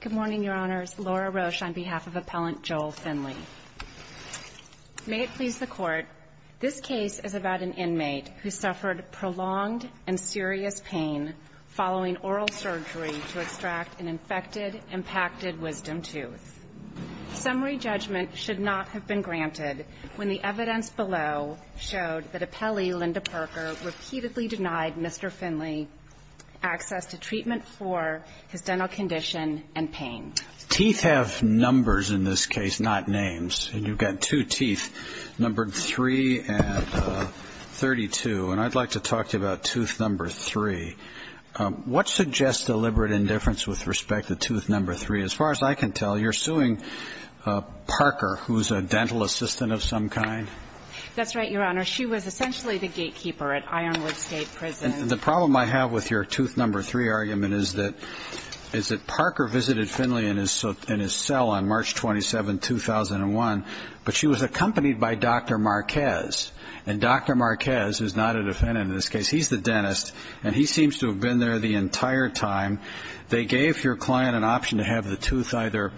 Good morning, Your Honors. Laura Roche on behalf of Appellant Joel Finley. May it please the Court, this case is about an inmate who suffered prolonged and serious pain following oral surgery to extract an infected impacted wisdom tooth. Summary judgment should not have been granted when the evidence below showed that Appellee Linda Parker repeatedly denied Mr. Finley access to treatment for his dental condition and pain. Teeth have numbers in this case, not names. And you've got two teeth, numbered 3 and 32. And I'd like to talk to you about tooth number 3. What suggests deliberate indifference with respect to tooth number 3? As far as I can tell, you're suing Parker, who's a dental assistant of some kind? That's right, Your Honor. She was essentially the gatekeeper at Ironwood State Prison. And the problem I have with your tooth number 3 argument is that Parker visited Finley in his cell on March 27, 2001, but she was accompanied by Dr. Marquez. And Dr. Marquez is not a defendant in this case. He's the dentist. And he seems to have been there the entire time. They gave your client an option to have the tooth either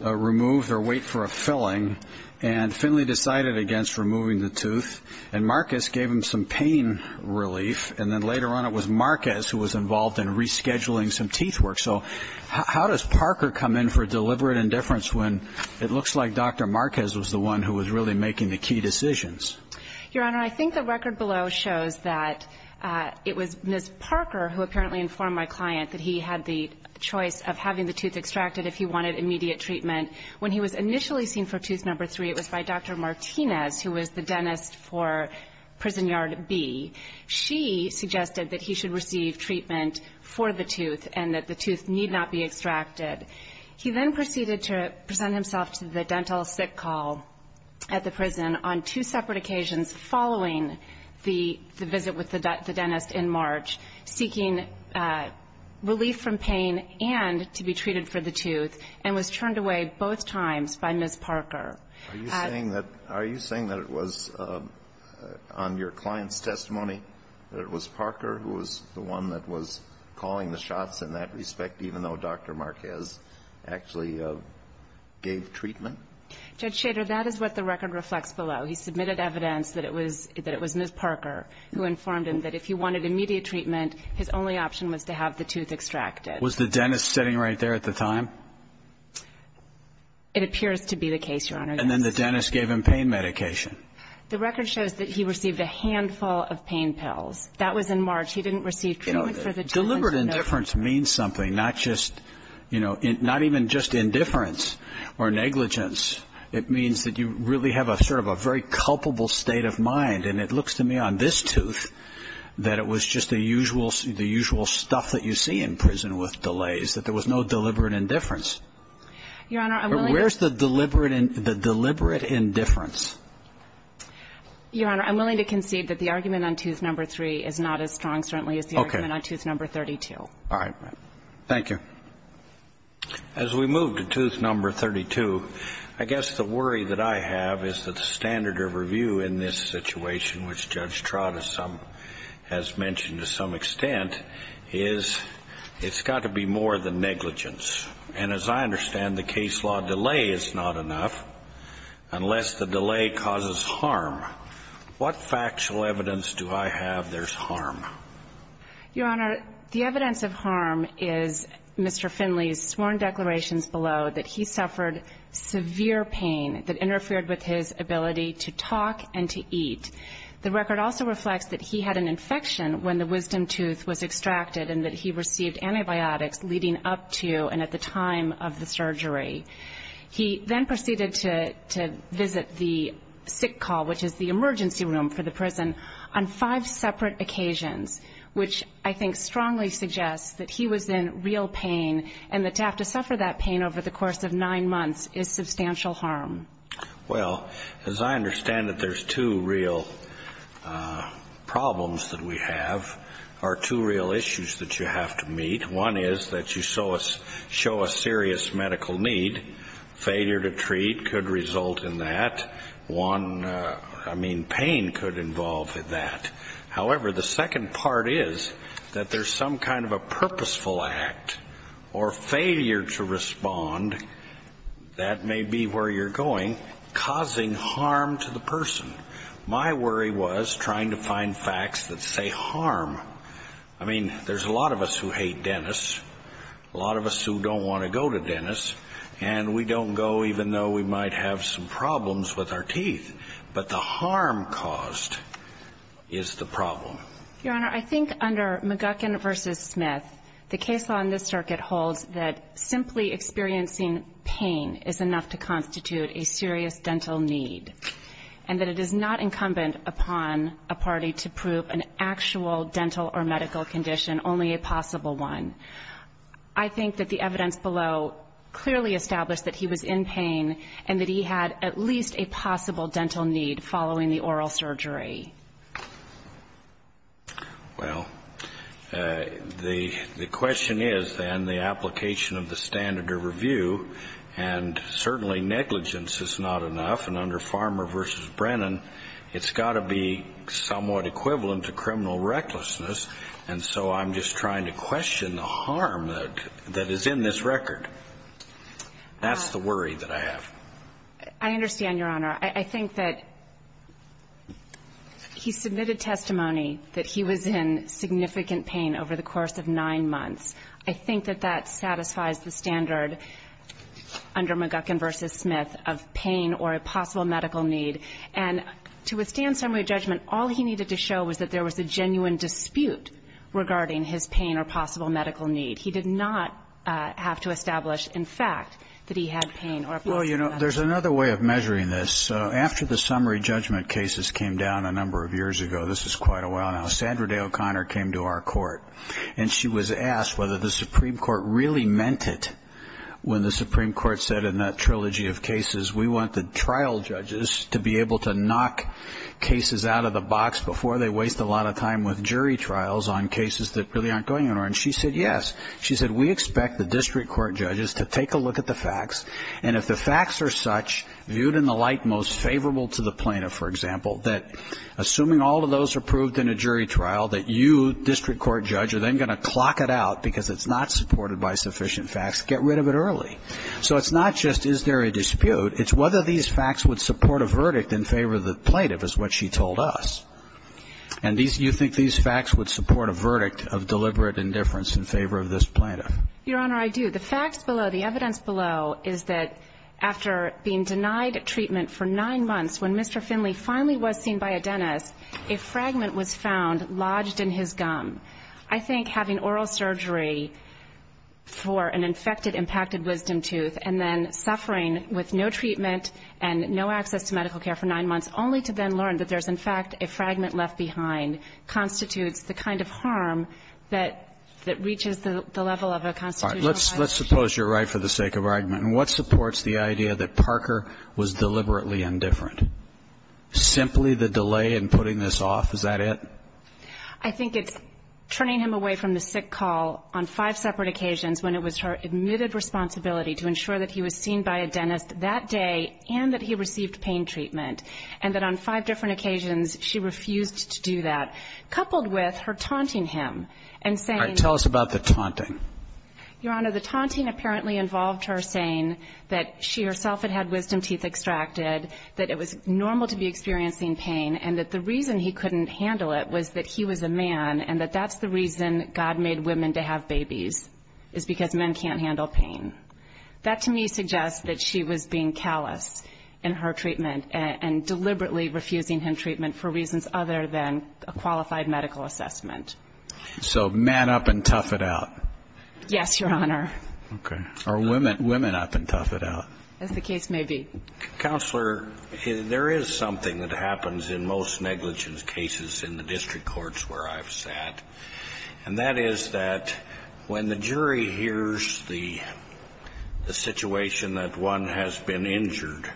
removed or wait for a filling. And Finley decided against removing the tooth. And Marquez gave him some pain relief. And then later on it was Marquez who was involved in rescheduling some teeth work. So how does Parker come in for deliberate indifference when it looks like Dr. Marquez was the one who was really making the key decisions? Your Honor, I think the record below shows that it was Ms. Parker who apparently informed my client that he had the choice of having the tooth extracted if he wanted immediate treatment. When he was initially seen for tooth number 3, it was by Dr. Martinez, who was the dentist for Prison Yard B. She suggested that he should receive treatment for the tooth and that the tooth need not be extracted. He then proceeded to present himself to the dental sick call at the prison on two separate occasions following the visit with the dentist in March, seeking relief from pain and to be treated for the tooth, and was turned away both times by Ms. Parker. Are you saying that it was on your client's testimony that it was Parker who was the one that was calling the shots in that respect, even though Dr. Marquez actually gave treatment? Judge Schrader, that is what the record reflects below. He submitted evidence that it was Ms. Parker who informed him that if he wanted immediate treatment, his only option was to have the tooth extracted. Was the dentist sitting right there at the time? It appears to be the case, Your Honor, yes. And then the dentist gave him pain medication. The record shows that he received a handful of pain pills. That was in March. He didn't receive treatment for the tooth. Deliberate indifference means something, not just, you know, not even just indifference or negligence. It means that you really have a sort of a very culpable state of mind. And it looks to me on this tooth that it was just the usual stuff that you see in prison with delays, that there was no deliberate indifference. Your Honor, I'm willing to concede that the argument on tooth number three is not as strong, certainly, as the argument on tooth number three. All right. Thank you. As we move to tooth number 32, I guess the worry that I have is that the standard of review in this situation, which Judge Trott has mentioned to some extent, is it's got to be more than negligence. And as I understand, the case law delay is not enough unless the delay causes harm. What factual evidence do I have there's harm? Your Honor, the evidence of harm is Mr. Finley's sworn declarations below that he suffered severe pain that interfered with his ability to talk and to eat. The record also reflects that he had an infection when the Wisdom tooth was extracted and that he received antibiotics leading up to and at the time of the surgery. He then proceeded to visit the sick call, which is the emergency room for the prison, on five separate occasions, which I think strongly suggests that he was in real pain and that to have to suffer that pain over the course of nine months is substantial harm. Well, as I understand it, there's two real problems that we have or two real issues that you have to meet. One is that you show a serious medical need. Failure to treat could result in that. One, I mean, pain could involve that. However, the second part is that there's some kind of a purposeful act or failure to respond. That may be where you're going, causing harm to the person. My worry was trying to find facts that say harm. I mean, there's a lot of us who hate dentists, a lot of us who don't want to go to dentists, and we don't go even though we might have some problems with our teeth. But the harm caused is the problem. Your Honor, I think under McGuckin v. Smith, the case law in this circuit holds that simply experiencing pain is enough to constitute a serious dental need and that it is not incumbent upon a party to prove an actual dental or medical condition, only a possible one. I think that the evidence below clearly established that he was in pain and that he had at least a possible dental need following the oral surgery. Well, the question is, then, the application of the standard of review, and certainly negligence is not enough. And under Farmer v. Brennan, it's got to be somewhat equivalent to criminal recklessness. And so I'm just trying to question the harm that is in this record. That's the worry that I have. I understand, Your Honor. I think that he submitted testimony that he was in significant pain over the course of nine months. I think that that satisfies the standard under McGuckin v. Smith of pain or a possible medical need. And to withstand summary judgment, all he needed to show was that there was a genuine dispute regarding his pain or possible medical need. He did not have to establish, in fact, that he had pain or a possible medical need. Well, you know, there's another way of measuring this. After the summary judgment cases came down a number of years ago, this is quite a while now, Sandra Day O'Connor came to our court, and she was asked whether the Supreme Court really meant it when the Supreme Court said in that trilogy of cases, we want the trial judges to be able to knock cases out of the box before they waste a lot of time with jury trials on cases that really aren't going anywhere. And she said, yes. She said, we expect the district court judges to take a look at the facts, and if the facts are such, viewed in the light most favorable to the plaintiff, for example, that assuming all of those are proved in a jury trial, that you, district court judge, are then going to clock it out because it's not supported by sufficient facts, get rid of it early. So it's not just is there a dispute. It's whether these facts would support a verdict in favor of the plaintiff is what she told us. And these you think these facts would support a verdict of deliberate indifference in favor of this plaintiff. Your Honor, I do. The facts below, the evidence below is that after being denied treatment for nine months, when Mr. Finley finally was seen by a dentist, a fragment was found lodged in his gum. I think having oral surgery for an infected impacted wisdom tooth and then suffering with no treatment and no access to medical care for nine months, only to then learn that there's, in fact, a fragment left behind, constitutes the kind of harm that reaches the level of a constitutional violation. All right. Let's suppose you're right for the sake of argument. And what supports the idea that Parker was deliberately indifferent? Simply the delay in putting this off? Is that it? I think it's turning him away from the sick call on five separate occasions when it was her admitted responsibility to ensure that he was seen by a dentist that day and that he received pain treatment, and that on five different occasions she refused to do that, coupled with her taunting him and saying... Your Honor, the taunting apparently involved her saying that she herself had had wisdom teeth extracted, that it was normal to be experiencing pain, and that the reason he couldn't handle it was that he was a man and that that's the reason God made women to have babies, is because men can't handle pain. That to me suggests that she was being callous in her treatment and deliberately refusing him treatment for reasons other than a qualified medical assessment. So man up and tough it out. Yes, Your Honor. Okay. Or women up and tough it out. As the case may be. Counselor, there is something that happens in most negligence cases in the district courts where I've sat, and that is that when the jury hears the situation that one has been injured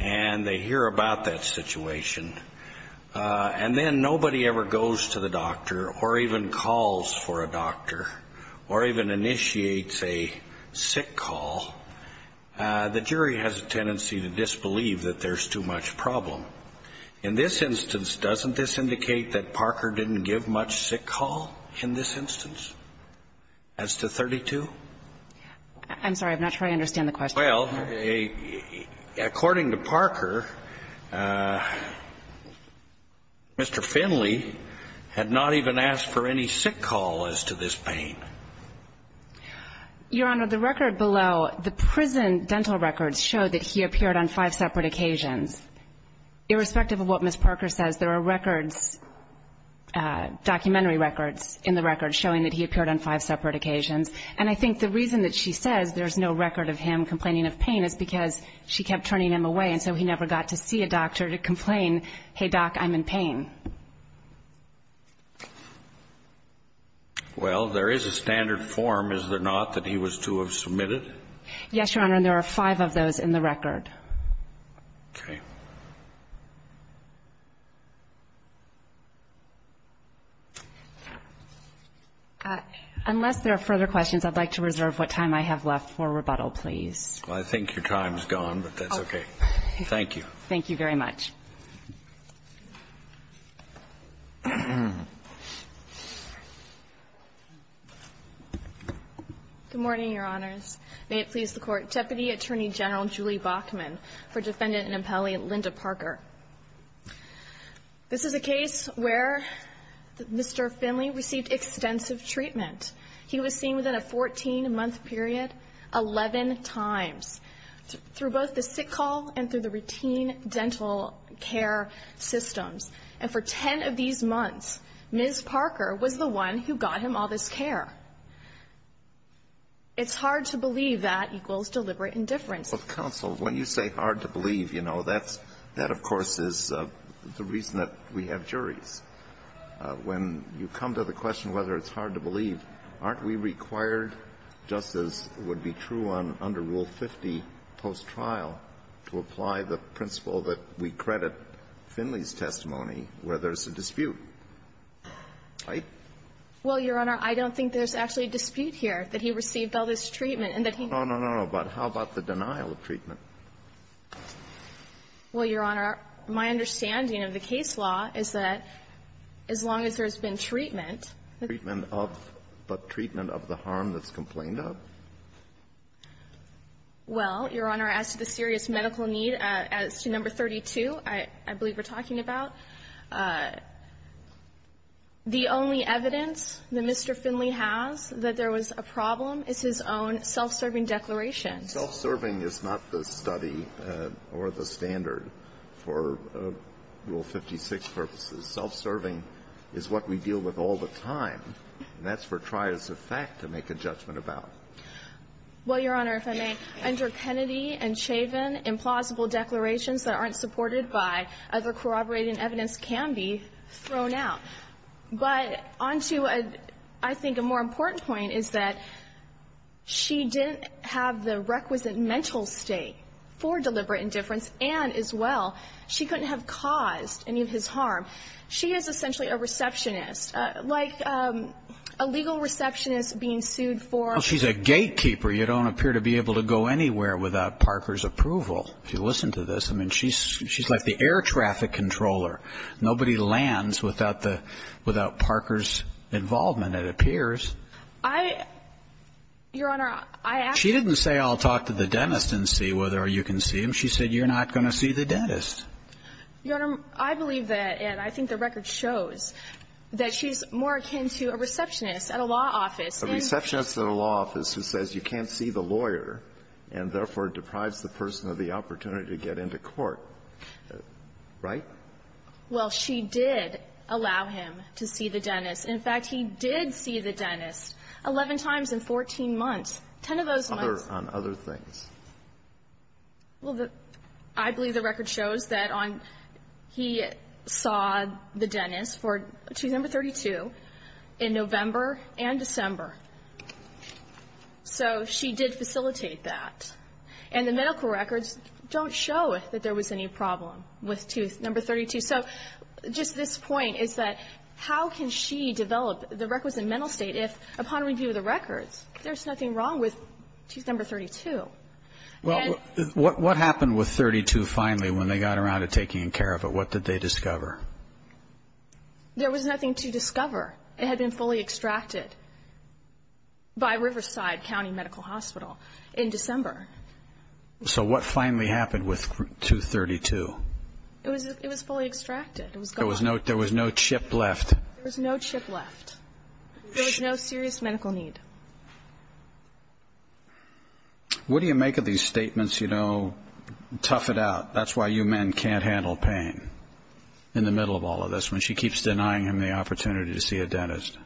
and they hear about that situation, and then nobody ever goes to the doctor or even calls for a doctor or even initiates a sick call, the jury has a tendency to disbelieve that there's too much problem. In this instance, doesn't this indicate that Parker didn't give much sick call in this instance as to 32? I'm sorry. I'm not sure I understand the question. Well, according to Parker, Mr. Finley had not even asked for any sick call as to this pain. Your Honor, the record below, the prison dental records show that he appeared on five separate occasions. Irrespective of what Ms. Parker says, there are records, documentary records, in the record showing that he appeared on five separate occasions. And I think the reason that she says there's no record of him complaining of pain is because she kept turning him away and so he never got to see a doctor to complain, hey, doc, I'm in pain. Well, there is a standard form, is there not, that he was to have submitted? Yes, Your Honor, and there are five of those in the record. Okay. Unless there are further questions, I'd like to reserve what time I have left for rebuttal, please. Well, I think your time is gone, but that's okay. Thank you. Thank you very much. Good morning, Your Honors. May it please the Court, Deputy Attorney General Julie Bachman for Defendant and Appellee Linda Parker. This is a case where Mr. Finley received extensive treatment. He was seen within a 14-month period 11 times through both the sick call and through the routine dental care systems. And for 10 of these months, Ms. Parker was the one who got him all this care. It's hard to believe that equals deliberate indifference. Well, counsel, when you say hard to believe, you know, that's of course is the reason that we have juries. When you come to the question whether it's hard to believe, aren't we required, just as would be true under Rule 50 post-trial, to apply the principle that we credit Finley's testimony where there's a dispute, right? Well, Your Honor, I don't think there's actually a dispute here that he received all this treatment and that he needed it. No, no, no, no. But how about the denial of treatment? Well, Your Honor, my understanding of the case law is that as long as there's been treatment. Treatment of? But treatment of the harm that's complained of? Well, Your Honor, as to the serious medical need, as to number 32, I believe we're Mr. Finley has, that there was a problem is his own self-serving declaration. Self-serving is not the study or the standard for Rule 56 purposes. Self-serving is what we deal with all the time, and that's for trios of fact to make a judgment about. Well, Your Honor, if I may, under Kennedy and Chavin, implausible declarations that aren't supported by other corroborating evidence can be thrown out. But on to, I think, a more important point is that she didn't have the requisite mental state for deliberate indifference, and as well, she couldn't have caused any of his harm. She is essentially a receptionist, like a legal receptionist being sued for. Well, she's a gatekeeper. You don't appear to be able to go anywhere without Parker's approval. If you listen to this, I mean, she's like the air traffic controller. Nobody lands without the – without Parker's involvement, it appears. I – Your Honor, I actually – She didn't say, I'll talk to the dentist and see whether you can see him. She said, you're not going to see the dentist. Your Honor, I believe that, and I think the record shows that she's more akin to a receptionist at a law office. A receptionist at a law office who says you can't see the lawyer and, therefore, deprives the person of the opportunity to get into court, right? Well, she did allow him to see the dentist. In fact, he did see the dentist 11 times in 14 months. Ten of those months – Other – on other things. Well, the – I believe the record shows that on – he saw the dentist for tooth number 32 in November and December. So she did facilitate that. And the medical records don't show that there was any problem with tooth number 32. So just this point is that how can she develop the records in mental state if, upon review of the records, there's nothing wrong with tooth number 32? Well, what happened with 32 finally when they got around to taking care of it? What did they discover? There was nothing to discover. It had been fully extracted by Riverside County Medical Hospital in December. So what finally happened with tooth 32? It was fully extracted. There was no chip left. There was no chip left. There was no serious medical need. What do you make of these statements, you know, tough it out, that's why you men can't handle pain in the middle of all of this, when she keeps denying him the opportunity to see a dentist?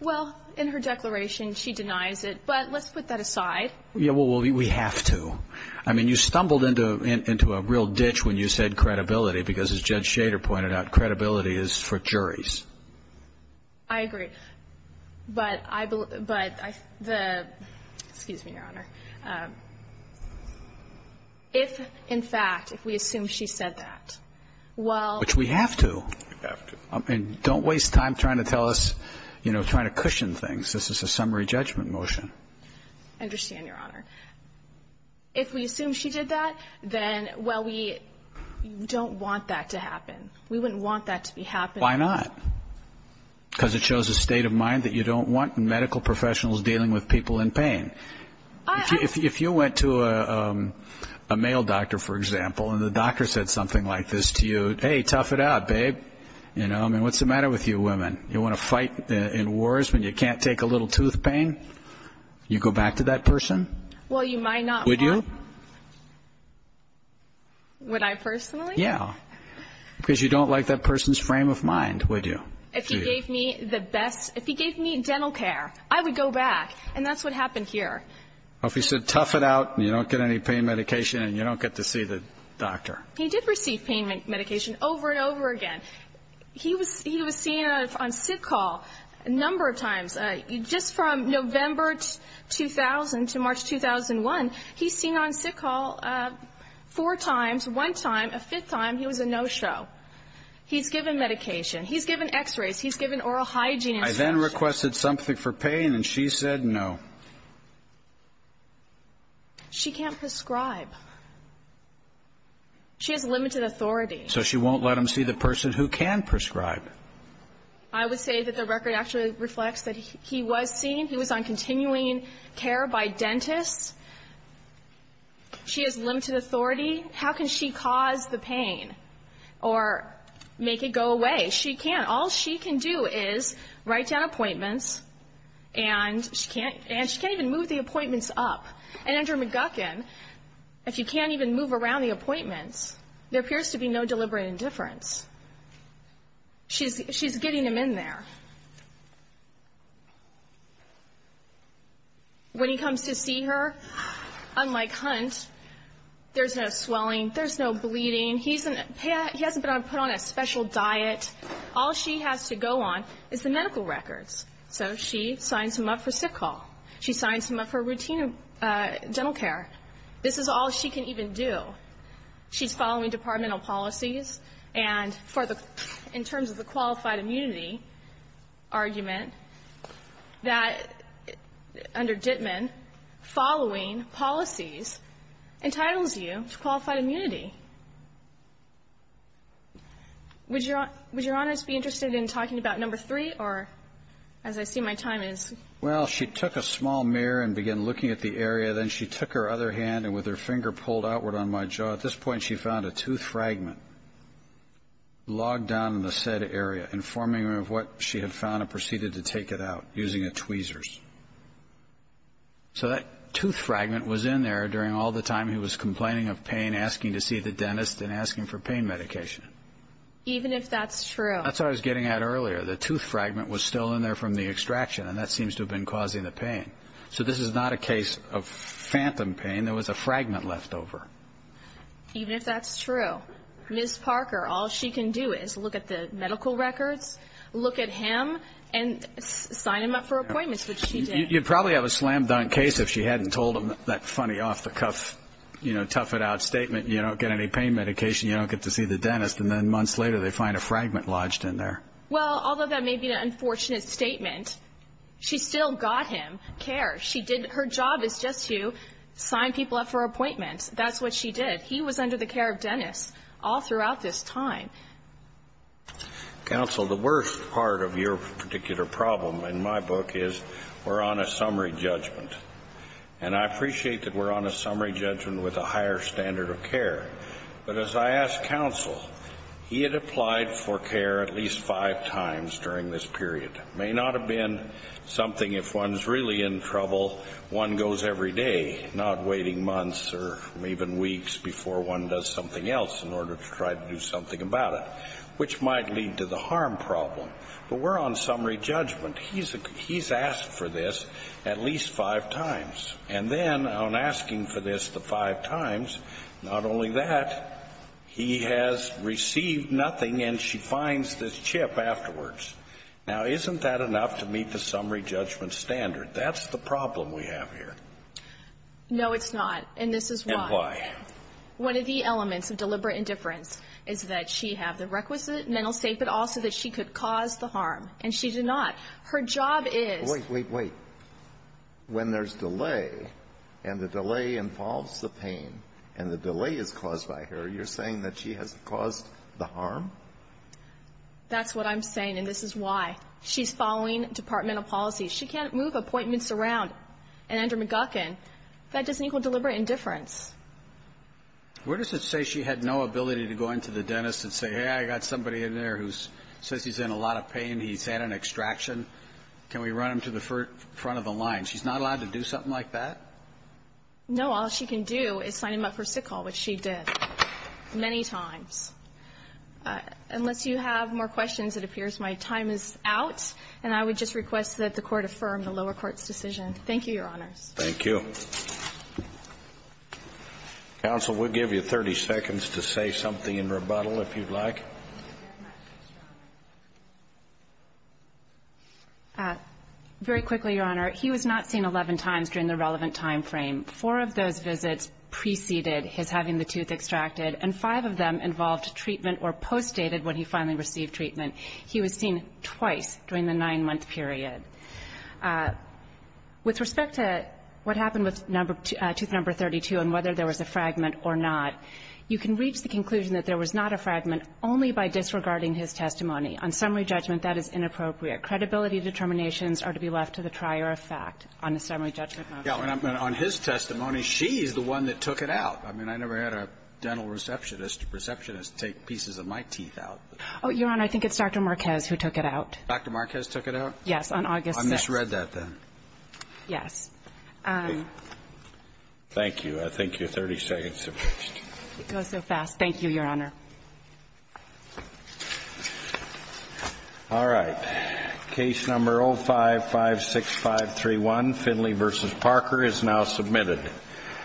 Well, in her declaration, she denies it. But let's put that aside. Yeah, well, we have to. I mean, you stumbled into a real ditch when you said credibility, because as Judge Shader pointed out, credibility is for juries. I agree. But I – but the – excuse me, Your Honor. If, in fact, if we assume she said that, well – Which we have to. We have to. And don't waste time trying to tell us, you know, trying to cushion things. This is a summary judgment motion. I understand, Your Honor. If we assume she did that, then, well, we don't want that to happen. We wouldn't want that to be happening. Why not? Because it shows a state of mind that you don't want medical professionals dealing with people in pain. If you went to a male doctor, for example, and the doctor said something like this to you, hey, tough it out, babe. You know, I mean, what's the matter with you women? You want to fight in wars when you can't take a little tooth pain? You go back to that person? Well, you might not want to. Would you? Would I personally? Yeah. Because you don't like that person's frame of mind, would you? If he gave me the best – if he gave me dental care, I would go back. And that's what happened here. Well, if he said tough it out and you don't get any pain medication and you don't get to see the doctor. He did receive pain medication over and over again. He was seen on sick call a number of times. Just from November 2000 to March 2001, he's seen on sick call four times, one time, a fifth time, he was a no-show. He's given medication. He's given x-rays. He's given oral hygiene. I then requested something for pain, and she said no. She can't prescribe. She has limited authority. So she won't let him see the person who can prescribe. I would say that the record actually reflects that he was seen. He was on continuing care by dentists. She has limited authority. How can she cause the pain or make it go away? She can't. All she can do is write down appointments, and she can't even move the appointments up. And under McGuckin, if you can't even move around the appointments, there appears to be no deliberate indifference. She's getting him in there. When he comes to see her, unlike Hunt, there's no swelling. There's no bleeding. He hasn't been put on a special diet. All she has to go on is the medical records. So she signs him up for sick call. She signs him up for routine dental care. This is all she can even do. She's following departmental policies. And in terms of the qualified immunity argument, that under Dittman, following policies entitles you to qualified immunity. Would Your Honor be interested in talking about number three, or as I see my time is? Well, she took a small mirror and began looking at the area. Then she took her other hand, and with her finger pulled outward on my jaw, at this point she found a tooth fragment logged down in the said area, informing her of what she had found and proceeded to take it out using a tweezer. So that tooth fragment was in there during all the time he was complaining of pain, asking to see the dentist and asking for pain medication. Even if that's true. That's what I was getting at earlier. The tooth fragment was still in there from the extraction, and that seems to have been causing the pain. So this is not a case of phantom pain. There was a fragment left over. Even if that's true. Ms. Parker, all she can do is look at the medical records, look at him, and sign him up for appointments, which she did. You'd probably have a slam-dunk case if she hadn't told him that funny, off-the-cuff, you know, tough-it-out statement, you don't get any pain medication, you don't get to see the dentist, and then months later they find a fragment lodged in there. Well, although that may be an unfortunate statement, she still got him care. Her job is just to sign people up for appointments. That's what she did. He was under the care of dentists all throughout this time. Counsel, the worst part of your particular problem in my book is we're on a summary judgment. And I appreciate that we're on a summary judgment with a higher standard of care. But as I asked counsel, he had applied for care at least five times during this period. It may not have been something if one's really in trouble, one goes every day, not waiting months or even weeks before one does something else in order to try to do something about it, which might lead to the harm problem. But we're on summary judgment. He's asked for this at least five times. And then on asking for this the five times, not only that, he has received nothing, and she finds this chip afterwards. Now, isn't that enough to meet the summary judgment standard? That's the problem we have here. No, it's not. And this is why. And why? One of the elements of deliberate indifference is that she have the requisite mental state, but also that she could cause the harm. And she did not. Her job is. Wait, wait, wait. When there's delay, and the delay involves the pain, and the delay is caused by her, you're saying that she has caused the harm? That's what I'm saying, and this is why. She's following departmental policies. She can't move appointments around. And under McGuckin, that doesn't equal deliberate indifference. Where does it say she had no ability to go into the dentist and say, hey, I got somebody in there who says he's in a lot of pain, he's had an extraction? Can we run him to the front of the line? She's not allowed to do something like that? No. All she can do is sign him up for sickle, which she did many times. Unless you have more questions, it appears my time is out, and I would just request that the Court affirm the lower court's decision. Thank you, Your Honors. Thank you. Counsel, we'll give you 30 seconds to say something in rebuttal, if you'd like. Very quickly, Your Honor. He was not seen 11 times during the relevant time frame. Four of those visits preceded his having the tooth extracted, and five of them involved treatment or postdated when he finally received treatment. He was seen twice during the nine-month period. With respect to what happened with tooth number 32 and whether there was a fragment or not, you can reach the conclusion that there was not a fragment only by disregarding his testimony. On summary judgment, that is inappropriate. Credibility determinations are to be left to the trier of fact on the summary judgment motion. Yeah. On his testimony, she's the one that took it out. I mean, I never had a dental receptionist take pieces of my teeth out. Oh, Your Honor, I think it's Dr. Marquez who took it out. Dr. Marquez took it out? Yes, on August 6th. I misread that, then. Yes. Thank you. I thank you. 30 seconds have passed. It goes so fast. Thank you, Your Honor. All right. Case number 0556531, Finley v. Parker, is now submitted.